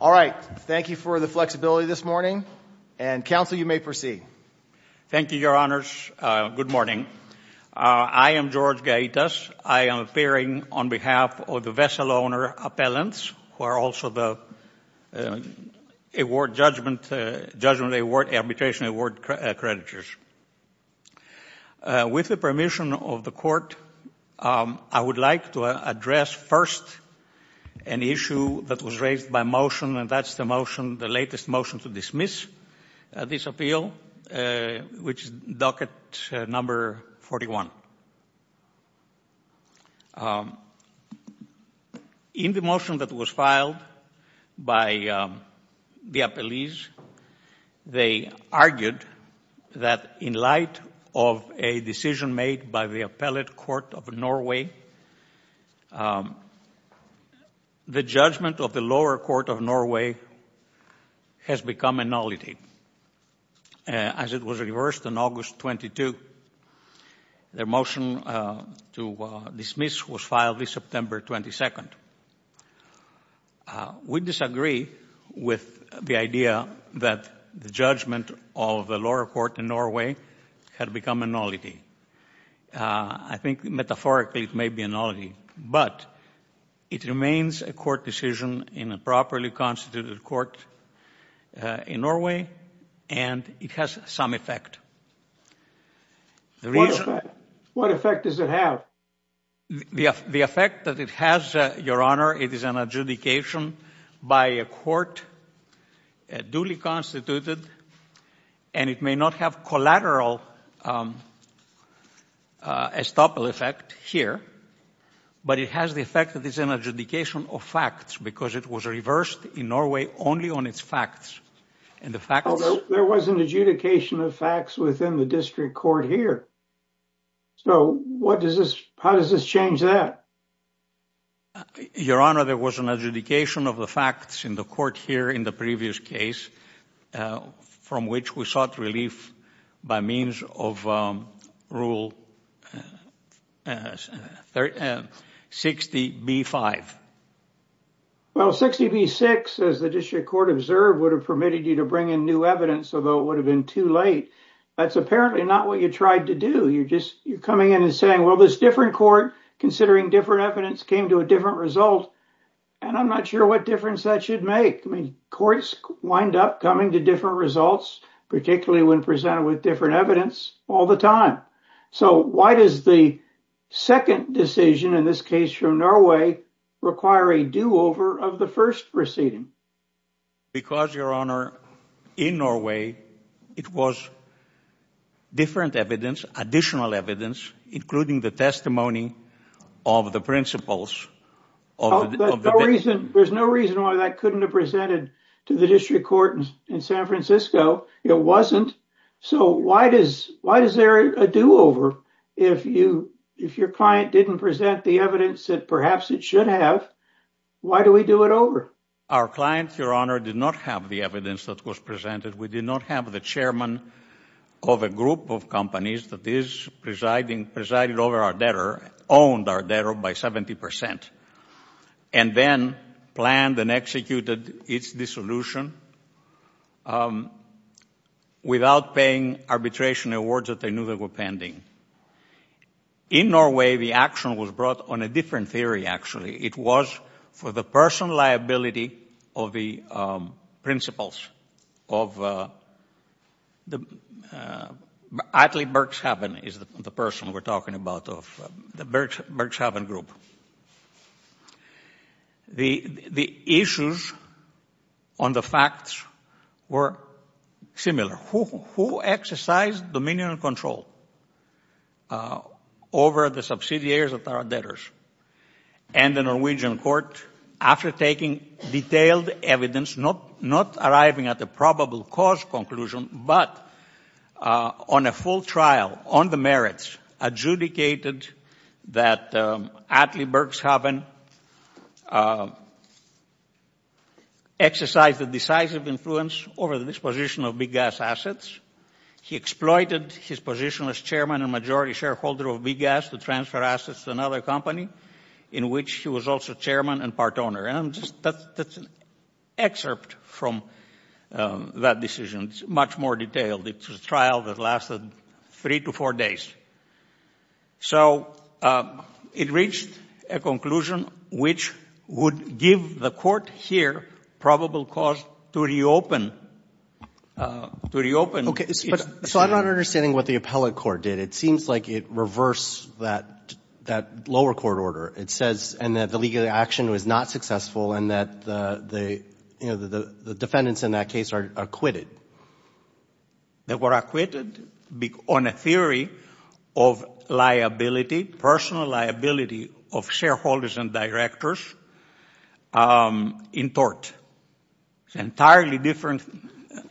All right. Thank you for the flexibility this morning, and Counsel, you may proceed. Thank you, Your Honors. Good morning. I am George Gaitas. I am appearing on behalf of the Vessel Owner Appellants, who are also the Judgment Award and Arbitration Award accreditors. With the permission of the Court, I would like to address first an issue that was raised by motion, and that is the latest motion to dismiss this appeal, which is Docket No. 41. In the motion that was filed by the appellees, they argued that in light of a decision made by the Appellate Court of Norway, the judgment of the lower court of Norway has become a nullity. As it was reversed on August 22, their motion to dismiss was filed this September 22. We disagree with the idea that the judgment of the lower court in Norway had become a nullity. I think metaphorically it may be a nullity, but it remains a court decision in a properly constituted court in Norway, and it has some effect. What effect does it have? The effect that it has, Your Honor, it is an adjudication by a court, duly constituted, and it may not have collateral estoppel effect here, but it has the effect that it's an adjudication of facts, because it was reversed in Norway only on its facts. There was an adjudication of facts within the district court here, so how does this change that? Your Honor, there was an adjudication of the facts in the court here in the previous case, from which we sought relief by means of Rule 60B-5. Well, 60B-6, as the district court observed, would have permitted you to bring in new evidence, although it would have been too late. That's apparently not what you tried to do. You're coming in and saying, well, this different court, considering different evidence, came to a different result, and I'm not sure what difference that should make. Courts wind up coming to different results, particularly when presented with different evidence, all the time. So why does the second decision, in this case from Norway, require a do-over of the first proceeding? Because, Your Honor, in Norway, it was different evidence, additional evidence, including the testimony of the principals of the district court. There's no reason why that couldn't have been presented to the district court in San Francisco. It wasn't. So why is there a do-over? If your client didn't present the evidence that perhaps it should have, why do we do it over? Our client, Your Honor, did not have the evidence that was presented. We did not have the chairman of a group of companies that is presiding over our debtor, owned our debtor by 70 percent, and then planned and executed its dissolution without paying arbitration awards that they knew they were pending. In Norway, the action was brought on a different theory, actually. It was for the personal liability of the principals of the Berkshaven Group. The issues on the facts were similar. Who exercised dominion and control over the subsidiaries of our debtors? And the Norwegian court, after taking detailed evidence, not arriving at a probable cause conclusion, but on a full trial on the merits, adjudicated that Atlee Berkshaven exercised a decisive influence over the disposition of BGAS assets. He exploited his position as chairman and majority shareholder of BGAS to transfer assets to another company in which he was also chairman and part owner. And that's an excerpt from that decision. It's much more detailed. It's a trial that lasted three to four days. So it reached a conclusion which would give the court here probable cause to reopen. Okay. So I'm not understanding what the appellate court did. It seems like it reversed that lower court order. It says that the legal action was not successful and that the defendants in that case are acquitted. They were acquitted on a theory of liability, personal liability of shareholders and directors in tort. It's an entirely different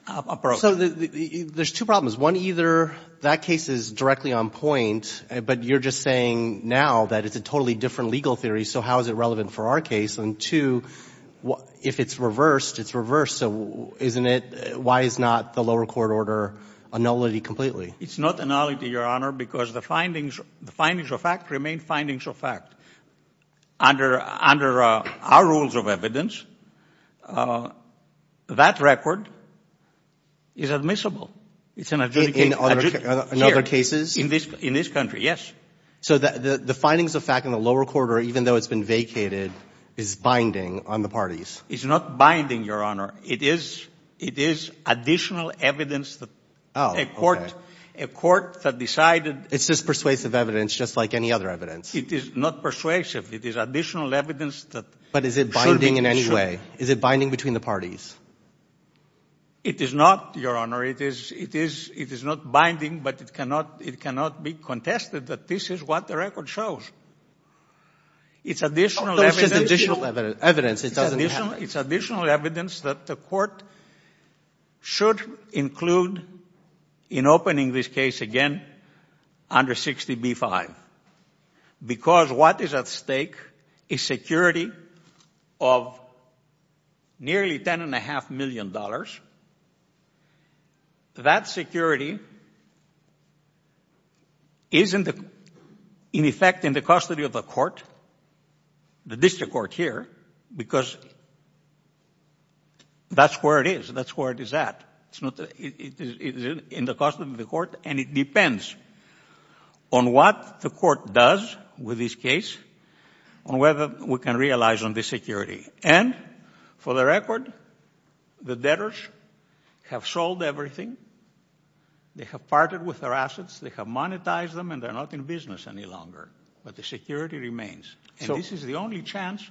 approach. So there's two problems. One, either that case is directly on point, but you're just saying now that it's a totally different legal theory, so how is it relevant for our case? And two, if it's reversed, it's reversed. So why is not the lower court order a nullity completely? It's not a nullity, Your Honor, because the findings of fact remain findings of fact. Under our rules of evidence, that record is admissible. In other cases? In this country, yes. So the findings of fact in the lower court order, even though it's been vacated, is binding on the parties? It's not binding, Your Honor. It is additional evidence that a court that decided It's just persuasive evidence, just like any other evidence. It is not persuasive. It is additional evidence that But is it binding in any way? Is it binding between the parties? It is not, Your Honor. It is not binding, but it cannot be contested that this is what the record shows. It's additional evidence It's additional evidence that the court should include in opening this case again under 60B-5 because what is at stake is security of nearly $10.5 million. That security isn't in effect in the custody of the court, the district court here, because that's where it is. That's where it is at. It's in the custody of the court, and it depends on what the court does with this case on whether we can realize on this security. And for the record, the debtors have sold everything. They have parted with their assets. They have monetized them, and they're not in business any longer, but the security remains. And this is the only chance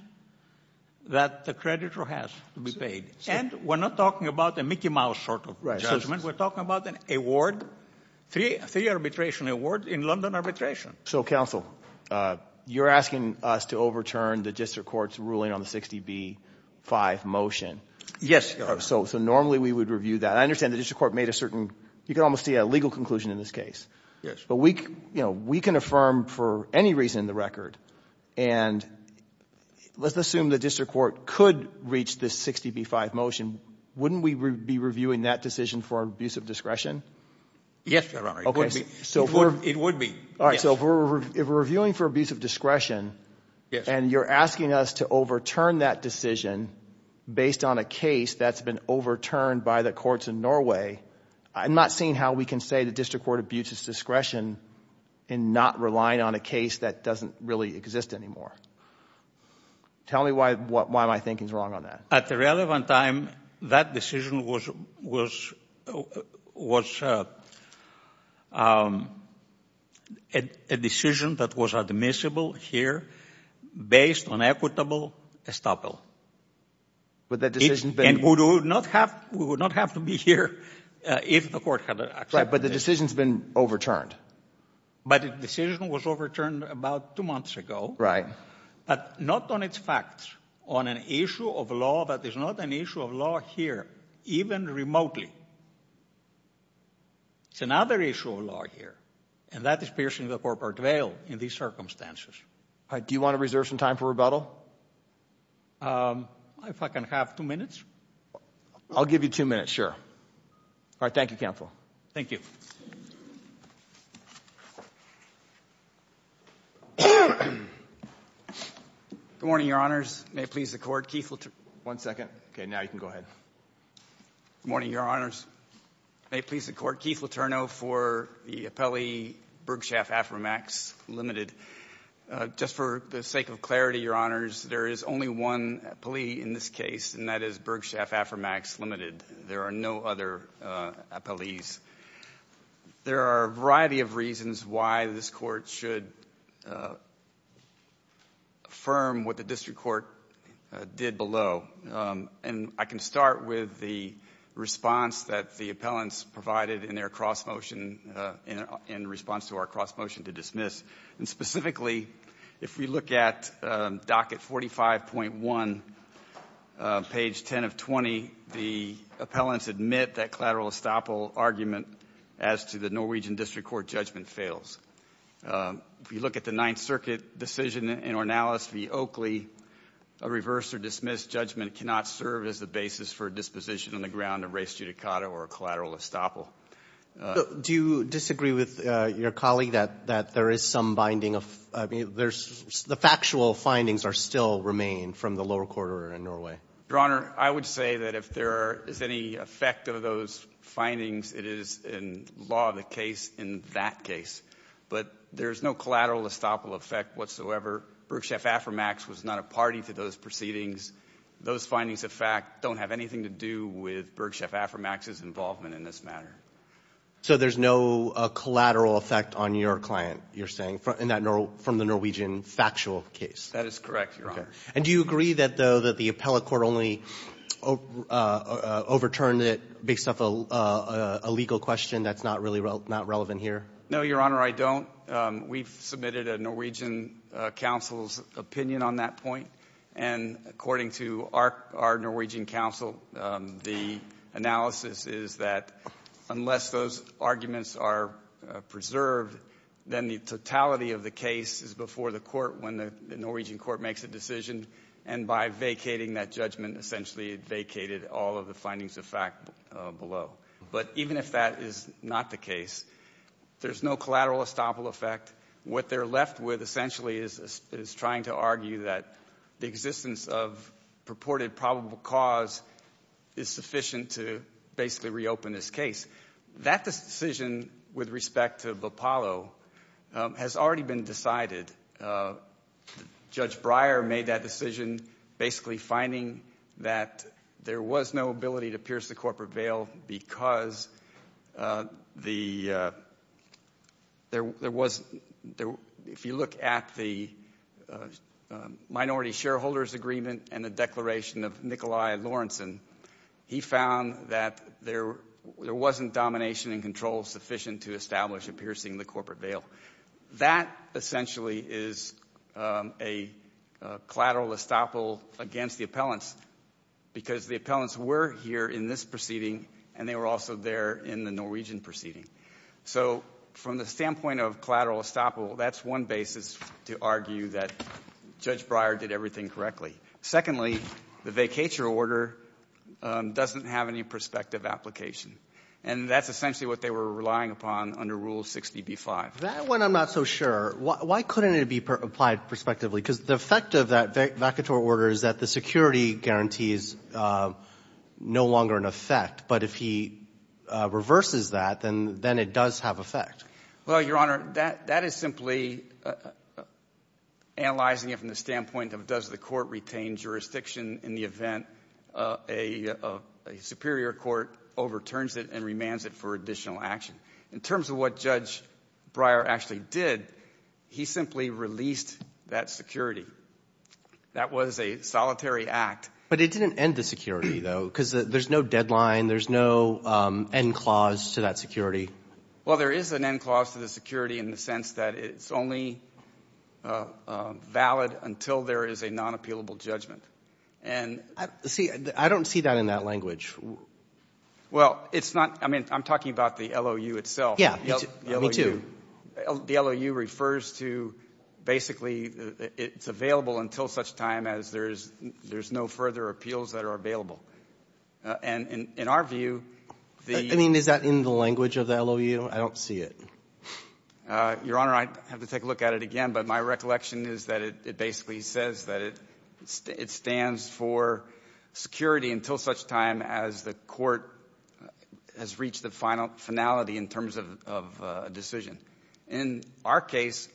that the creditor has to be paid. And we're not talking about a Mickey Mouse sort of judgment. We're talking about an award, three arbitration awards in London arbitration. So, counsel, you're asking us to overturn the district court's ruling on the 60B-5 motion. Yes, Your Honor. So normally we would review that. I understand the district court made a certain, you can almost see a legal conclusion in this case. Yes. But we can affirm for any reason in the record, and let's assume the district court could reach this 60B-5 motion, wouldn't we be reviewing that decision for abuse of discretion? Yes, Your Honor. It would be. All right. So if we're reviewing for abuse of discretion, and you're asking us to overturn that decision based on a case that's been overturned by the courts in Norway, I'm not seeing how we can say the district court abuses discretion in not relying on a case that doesn't really exist anymore. Tell me why my thinking's wrong on that. At the relevant time, that decision was a decision that was admissible here based on equitable estoppel. Would that decision have been... And we would not have to be here if the court had accepted it. Right, but the decision's been overturned. But the decision was overturned about two months ago. Right. But not on its facts, on an issue of law that is not an issue of law here, even remotely. It's another issue of law here, and that is piercing the corporate veil in these circumstances. All right. Do you want to reserve some time for rebuttal? If I can have two minutes. I'll give you two minutes, sure. All right. Thank you, counsel. Thank you. Good morning, Your Honors. May it please the court, Keith Letourneau... One second. Okay, now you can go ahead. Good morning, Your Honors. May it please the court, Keith Letourneau for the appellee, Bergshaff-Aframax, limited. Just for the sake of clarity, Your Honors, there is only one appellee in this case, and that is Bergshaff-Aframax, limited. There are no other appellees. There are a variety of reasons why this court should affirm what the district court did below. And I can start with the response that the appellants provided in their cross motion, in response to our cross motion to dismiss. And specifically, if we look at docket 45.1, page 10 of 20, the appellants admit that collateral estoppel argument as to the Norwegian district court judgment fails. If you look at the Ninth Circuit decision in Ornalis v. Oakley, a reverse or dismissed judgment cannot serve as the basis for disposition on the ground of race judicata or collateral estoppel. Do you disagree with your colleague that there is some binding of, I mean, the factual findings are still remain from the lower quarter in Norway? Your Honor, I would say that if there is any effect of those findings, it is in law of the case in that case. But there is no collateral estoppel effect whatsoever. Bergshaff-Aframax was not a party to those proceedings. Those findings, in fact, don't have anything to do with Bergshaff-Aframax's involvement in this matter. So there's no collateral effect on your client, you're saying, from the Norwegian factual case? That is correct, Your Honor. And do you agree, though, that the appellate court only overturned it based off a legal question that's not really relevant here? No, Your Honor, I don't. We've submitted a Norwegian counsel's opinion on that point. And according to our Norwegian counsel, the analysis is that unless those arguments are preserved, then the totality of the case is before the court when the Norwegian court makes a decision. And by vacating that judgment, essentially it vacated all of the findings of fact below. But even if that is not the case, there's no collateral estoppel effect. What they're left with essentially is trying to argue that the existence of purported probable cause is sufficient to basically reopen this case. That decision with respect to Bopalo has already been decided. Judge Breyer made that decision basically finding that there was no ability to pierce the corporate veil because if you look at the minority shareholders agreement and the declaration of Nikolai Lawrenson, he found that there wasn't domination and control sufficient to establish a piercing the corporate veil. That essentially is a collateral estoppel against the appellants because the appellants were here in this proceeding and they were also there in the Norwegian proceeding. So from the standpoint of collateral estoppel, that's one basis to argue that Judge Breyer did everything correctly. Secondly, the vacatur order doesn't have any prospective application. And that's essentially what they were relying upon under Rule 60b-5. That one I'm not so sure. Why couldn't it be applied prospectively? Because the effect of that vacatur order is that the security guarantees no longer an effect. But if he reverses that, then it does have effect. Well, Your Honor, that is simply analyzing it from the standpoint of does the court retain jurisdiction in the event a superior court overturns it and remands it for additional action? In terms of what Judge Breyer actually did, he simply released that security. That was a solitary act. But it didn't end the security, though, because there's no deadline. There's no end clause to that security. Well, there is an end clause to the security in the sense that it's only valid until there is a non-appealable judgment. See, I don't see that in that language. Well, it's not. I mean, I'm talking about the LOU itself. Yeah, me too. The LOU refers to basically it's available until such time as there's no further appeals that are available. And in our view, the — I mean, is that in the language of the LOU? I don't see it. Your Honor, I'd have to take a look at it again. But my recollection is that it basically says that it stands for security until such time as the court has reached the finality in terms of a decision. In our case,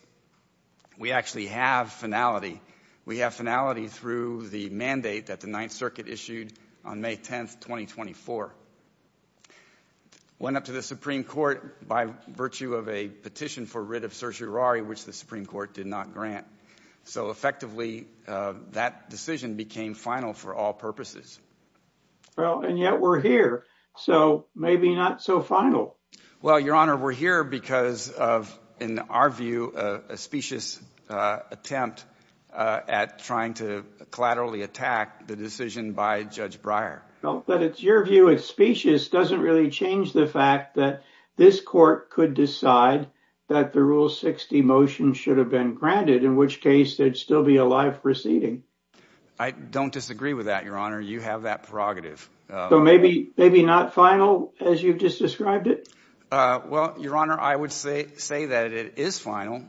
we actually have finality. We have finality through the mandate that the Ninth Circuit issued on May 10th, 2024. It went up to the Supreme Court by virtue of a petition for writ of certiorari, which the Supreme Court did not grant. So effectively, that decision became final for all purposes. Well, and yet we're here, so maybe not so final. Well, Your Honor, we're here because of, in our view, a specious attempt at trying to collaterally attack the decision by Judge Breyer. But it's your view, it's specious, doesn't really change the fact that this court could decide that the Rule 60 motion should have been granted, in which case there'd still be a live proceeding. I don't disagree with that, Your Honor. You have that prerogative. So maybe not final, as you've just described it? Well, Your Honor, I would say that it is final.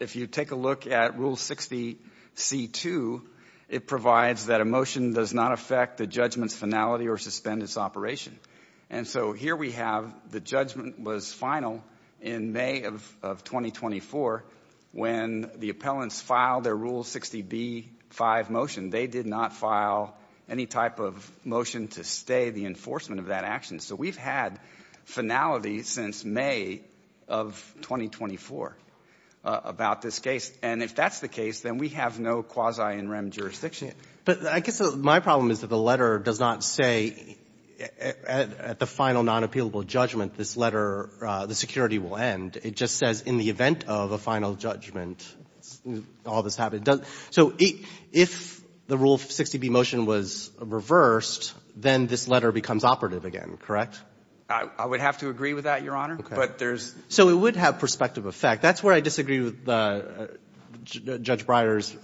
If you take a look at Rule 60c2, it provides that a motion does not affect the judgment's finality or suspend its operation. And so here we have the judgment was final in May of 2024 when the appellants filed their Rule 60b5 motion. They did not file any type of motion to stay the enforcement of that action. So we've had finality since May of 2024 about this case. And if that's the case, then we have no quasi-in rem jurisdiction. But I guess my problem is that the letter does not say, at the final non-appealable judgment, this letter, the security will end. It just says, in the event of a final judgment, all this happened. So if the Rule 60b motion was reversed, then this letter becomes operative again, correct? I would have to agree with that, Your Honor. But there's – So it would have prospective effect. That's where I disagree with Judge Breyer's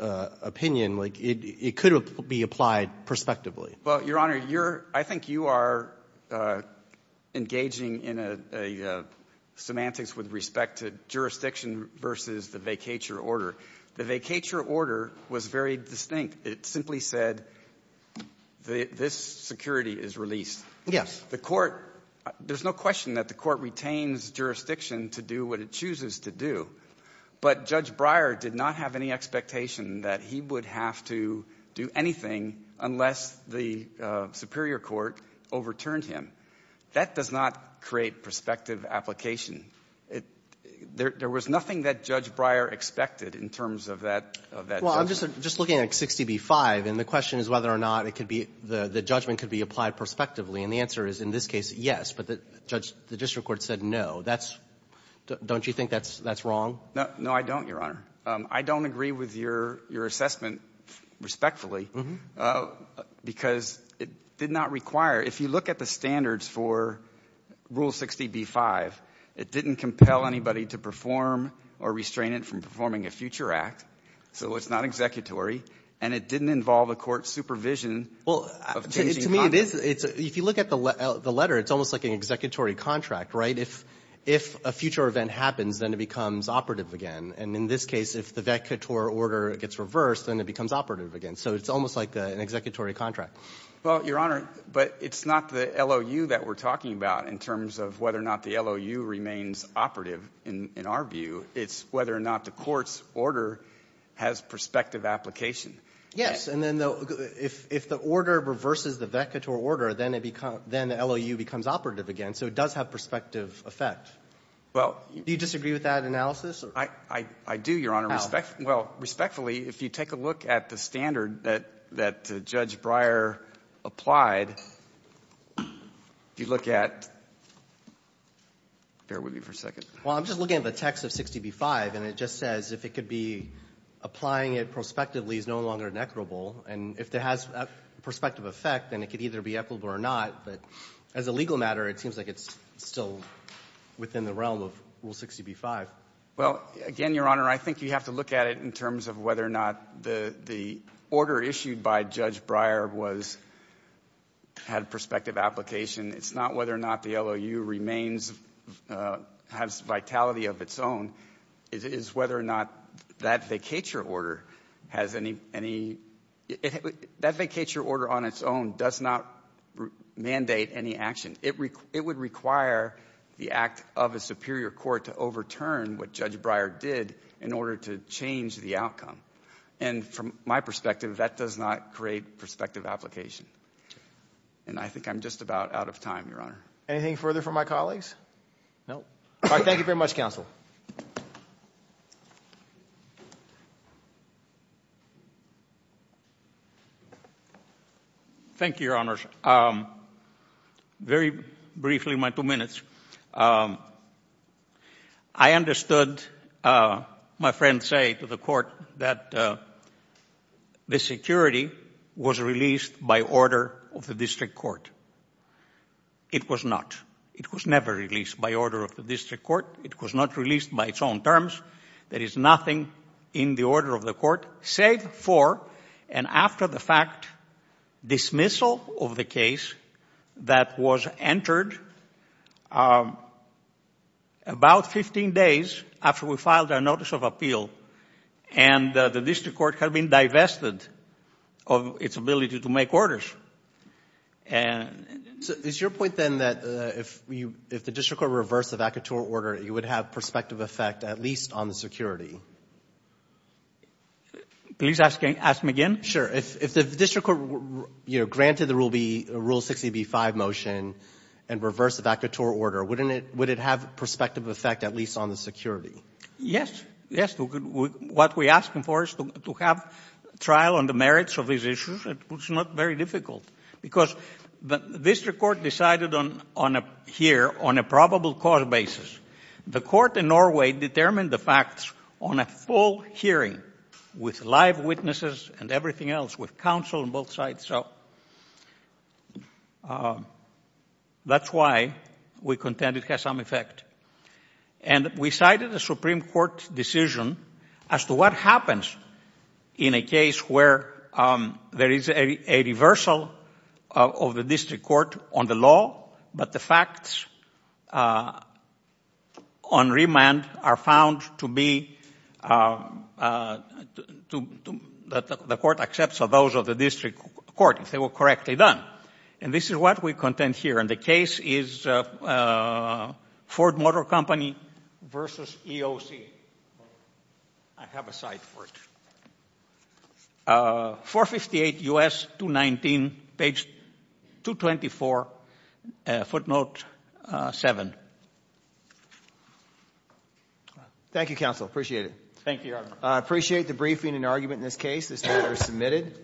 opinion. Like, it could be applied prospectively. Well, Your Honor, you're – I think you are engaging in a semantics with respect to jurisdiction versus the vacatur order. The vacatur order was very distinct. It simply said this security is released. Yes. The court – there's no question that the court retains jurisdiction to do what it chooses to do. But Judge Breyer did not have any expectation that he would have to do anything unless the superior court overturned him. That does not create prospective application. There was nothing that Judge Breyer expected in terms of that judgment. Well, I'm just looking at 60b-5, and the question is whether or not it could be – the judgment could be applied prospectively. And the answer is, in this case, yes. But the district court said no. That's – don't you think that's wrong? No, I don't, Your Honor. I don't agree with your assessment, respectfully, because it did not require – if you look at the standards for Rule 60b-5, it didn't compel anybody to perform or restrain it from performing a future act, so it's not executory. And it didn't involve a court's supervision of changing conduct. Well, to me, it is – if you look at the letter, it's almost like an executory contract, right? If – if a future event happens, then it becomes operative again. And in this case, if the vet couture order gets reversed, then it becomes operative again. So it's almost like an executory contract. Well, Your Honor, but it's not the LOU that we're talking about in terms of whether or not the LOU remains operative in our view. It's whether or not the court's order has prospective application. Yes. And then if the order reverses the vet couture order, then it becomes – then the LOU becomes operative again. And so it does have prospective effect. Well – Do you disagree with that analysis? I do, Your Honor. How? Well, respectfully, if you take a look at the standard that Judge Breyer applied, if you look at – bear with me for a second. Well, I'm just looking at the text of 60b-5, and it just says if it could be – applying it prospectively is no longer inequitable. And if it has prospective effect, then it could either be equitable or not. But as a legal matter, it seems like it's still within the realm of Rule 60b-5. Well, again, Your Honor, I think you have to look at it in terms of whether or not the order issued by Judge Breyer was – had prospective application. It's not whether or not the LOU remains – has vitality of its own. It is whether or not that vet couture order has any – that vet couture order on its own does not mandate any action. It would require the act of a superior court to overturn what Judge Breyer did in order to change the outcome. And from my perspective, that does not create prospective application. And I think I'm just about out of time, Your Honor. Anything further from my colleagues? No. All right, thank you very much, counsel. Thank you, Your Honors. Very briefly, my two minutes. I understood my friend say to the court that the security was released by order of the district court. It was not. It was never released by order of the district court. It was not released by its own terms. There is nothing in the order of the court save for and after the fact dismissal of the case that was entered about 15 days after we filed our notice of appeal. And the district court had been divested of its ability to make orders. Is your point, then, that if the district court reversed the vacateur order, it would have prospective effect at least on the security? Please ask him again. Sure. If the district court, you know, granted the Rule 60b-5 motion and reversed the vacateur order, wouldn't it have prospective effect at least on the security? Yes. Yes. What we're asking for is to have trial on the merits of these issues. It's not very difficult because the district court decided here on a probable cause basis. The court in Norway determined the facts on a full hearing with live witnesses and everything else, with counsel on both sides. So that's why we contend it has some effect. And we cited the Supreme Court decision as to what happens in a case where there is a reversal of the district court on the law, but the facts on remand are found to be that the court accepts those of the district court if they were correctly done. And this is what we contend here. And the case is Ford Motor Company v. EOC. I have a cite for it. 458 U.S. 219, page 224, footnote 7. Thank you, counsel. Appreciate it. Thank you, Your Honor. I appreciate the briefing and argument in this case. This matter is submitted.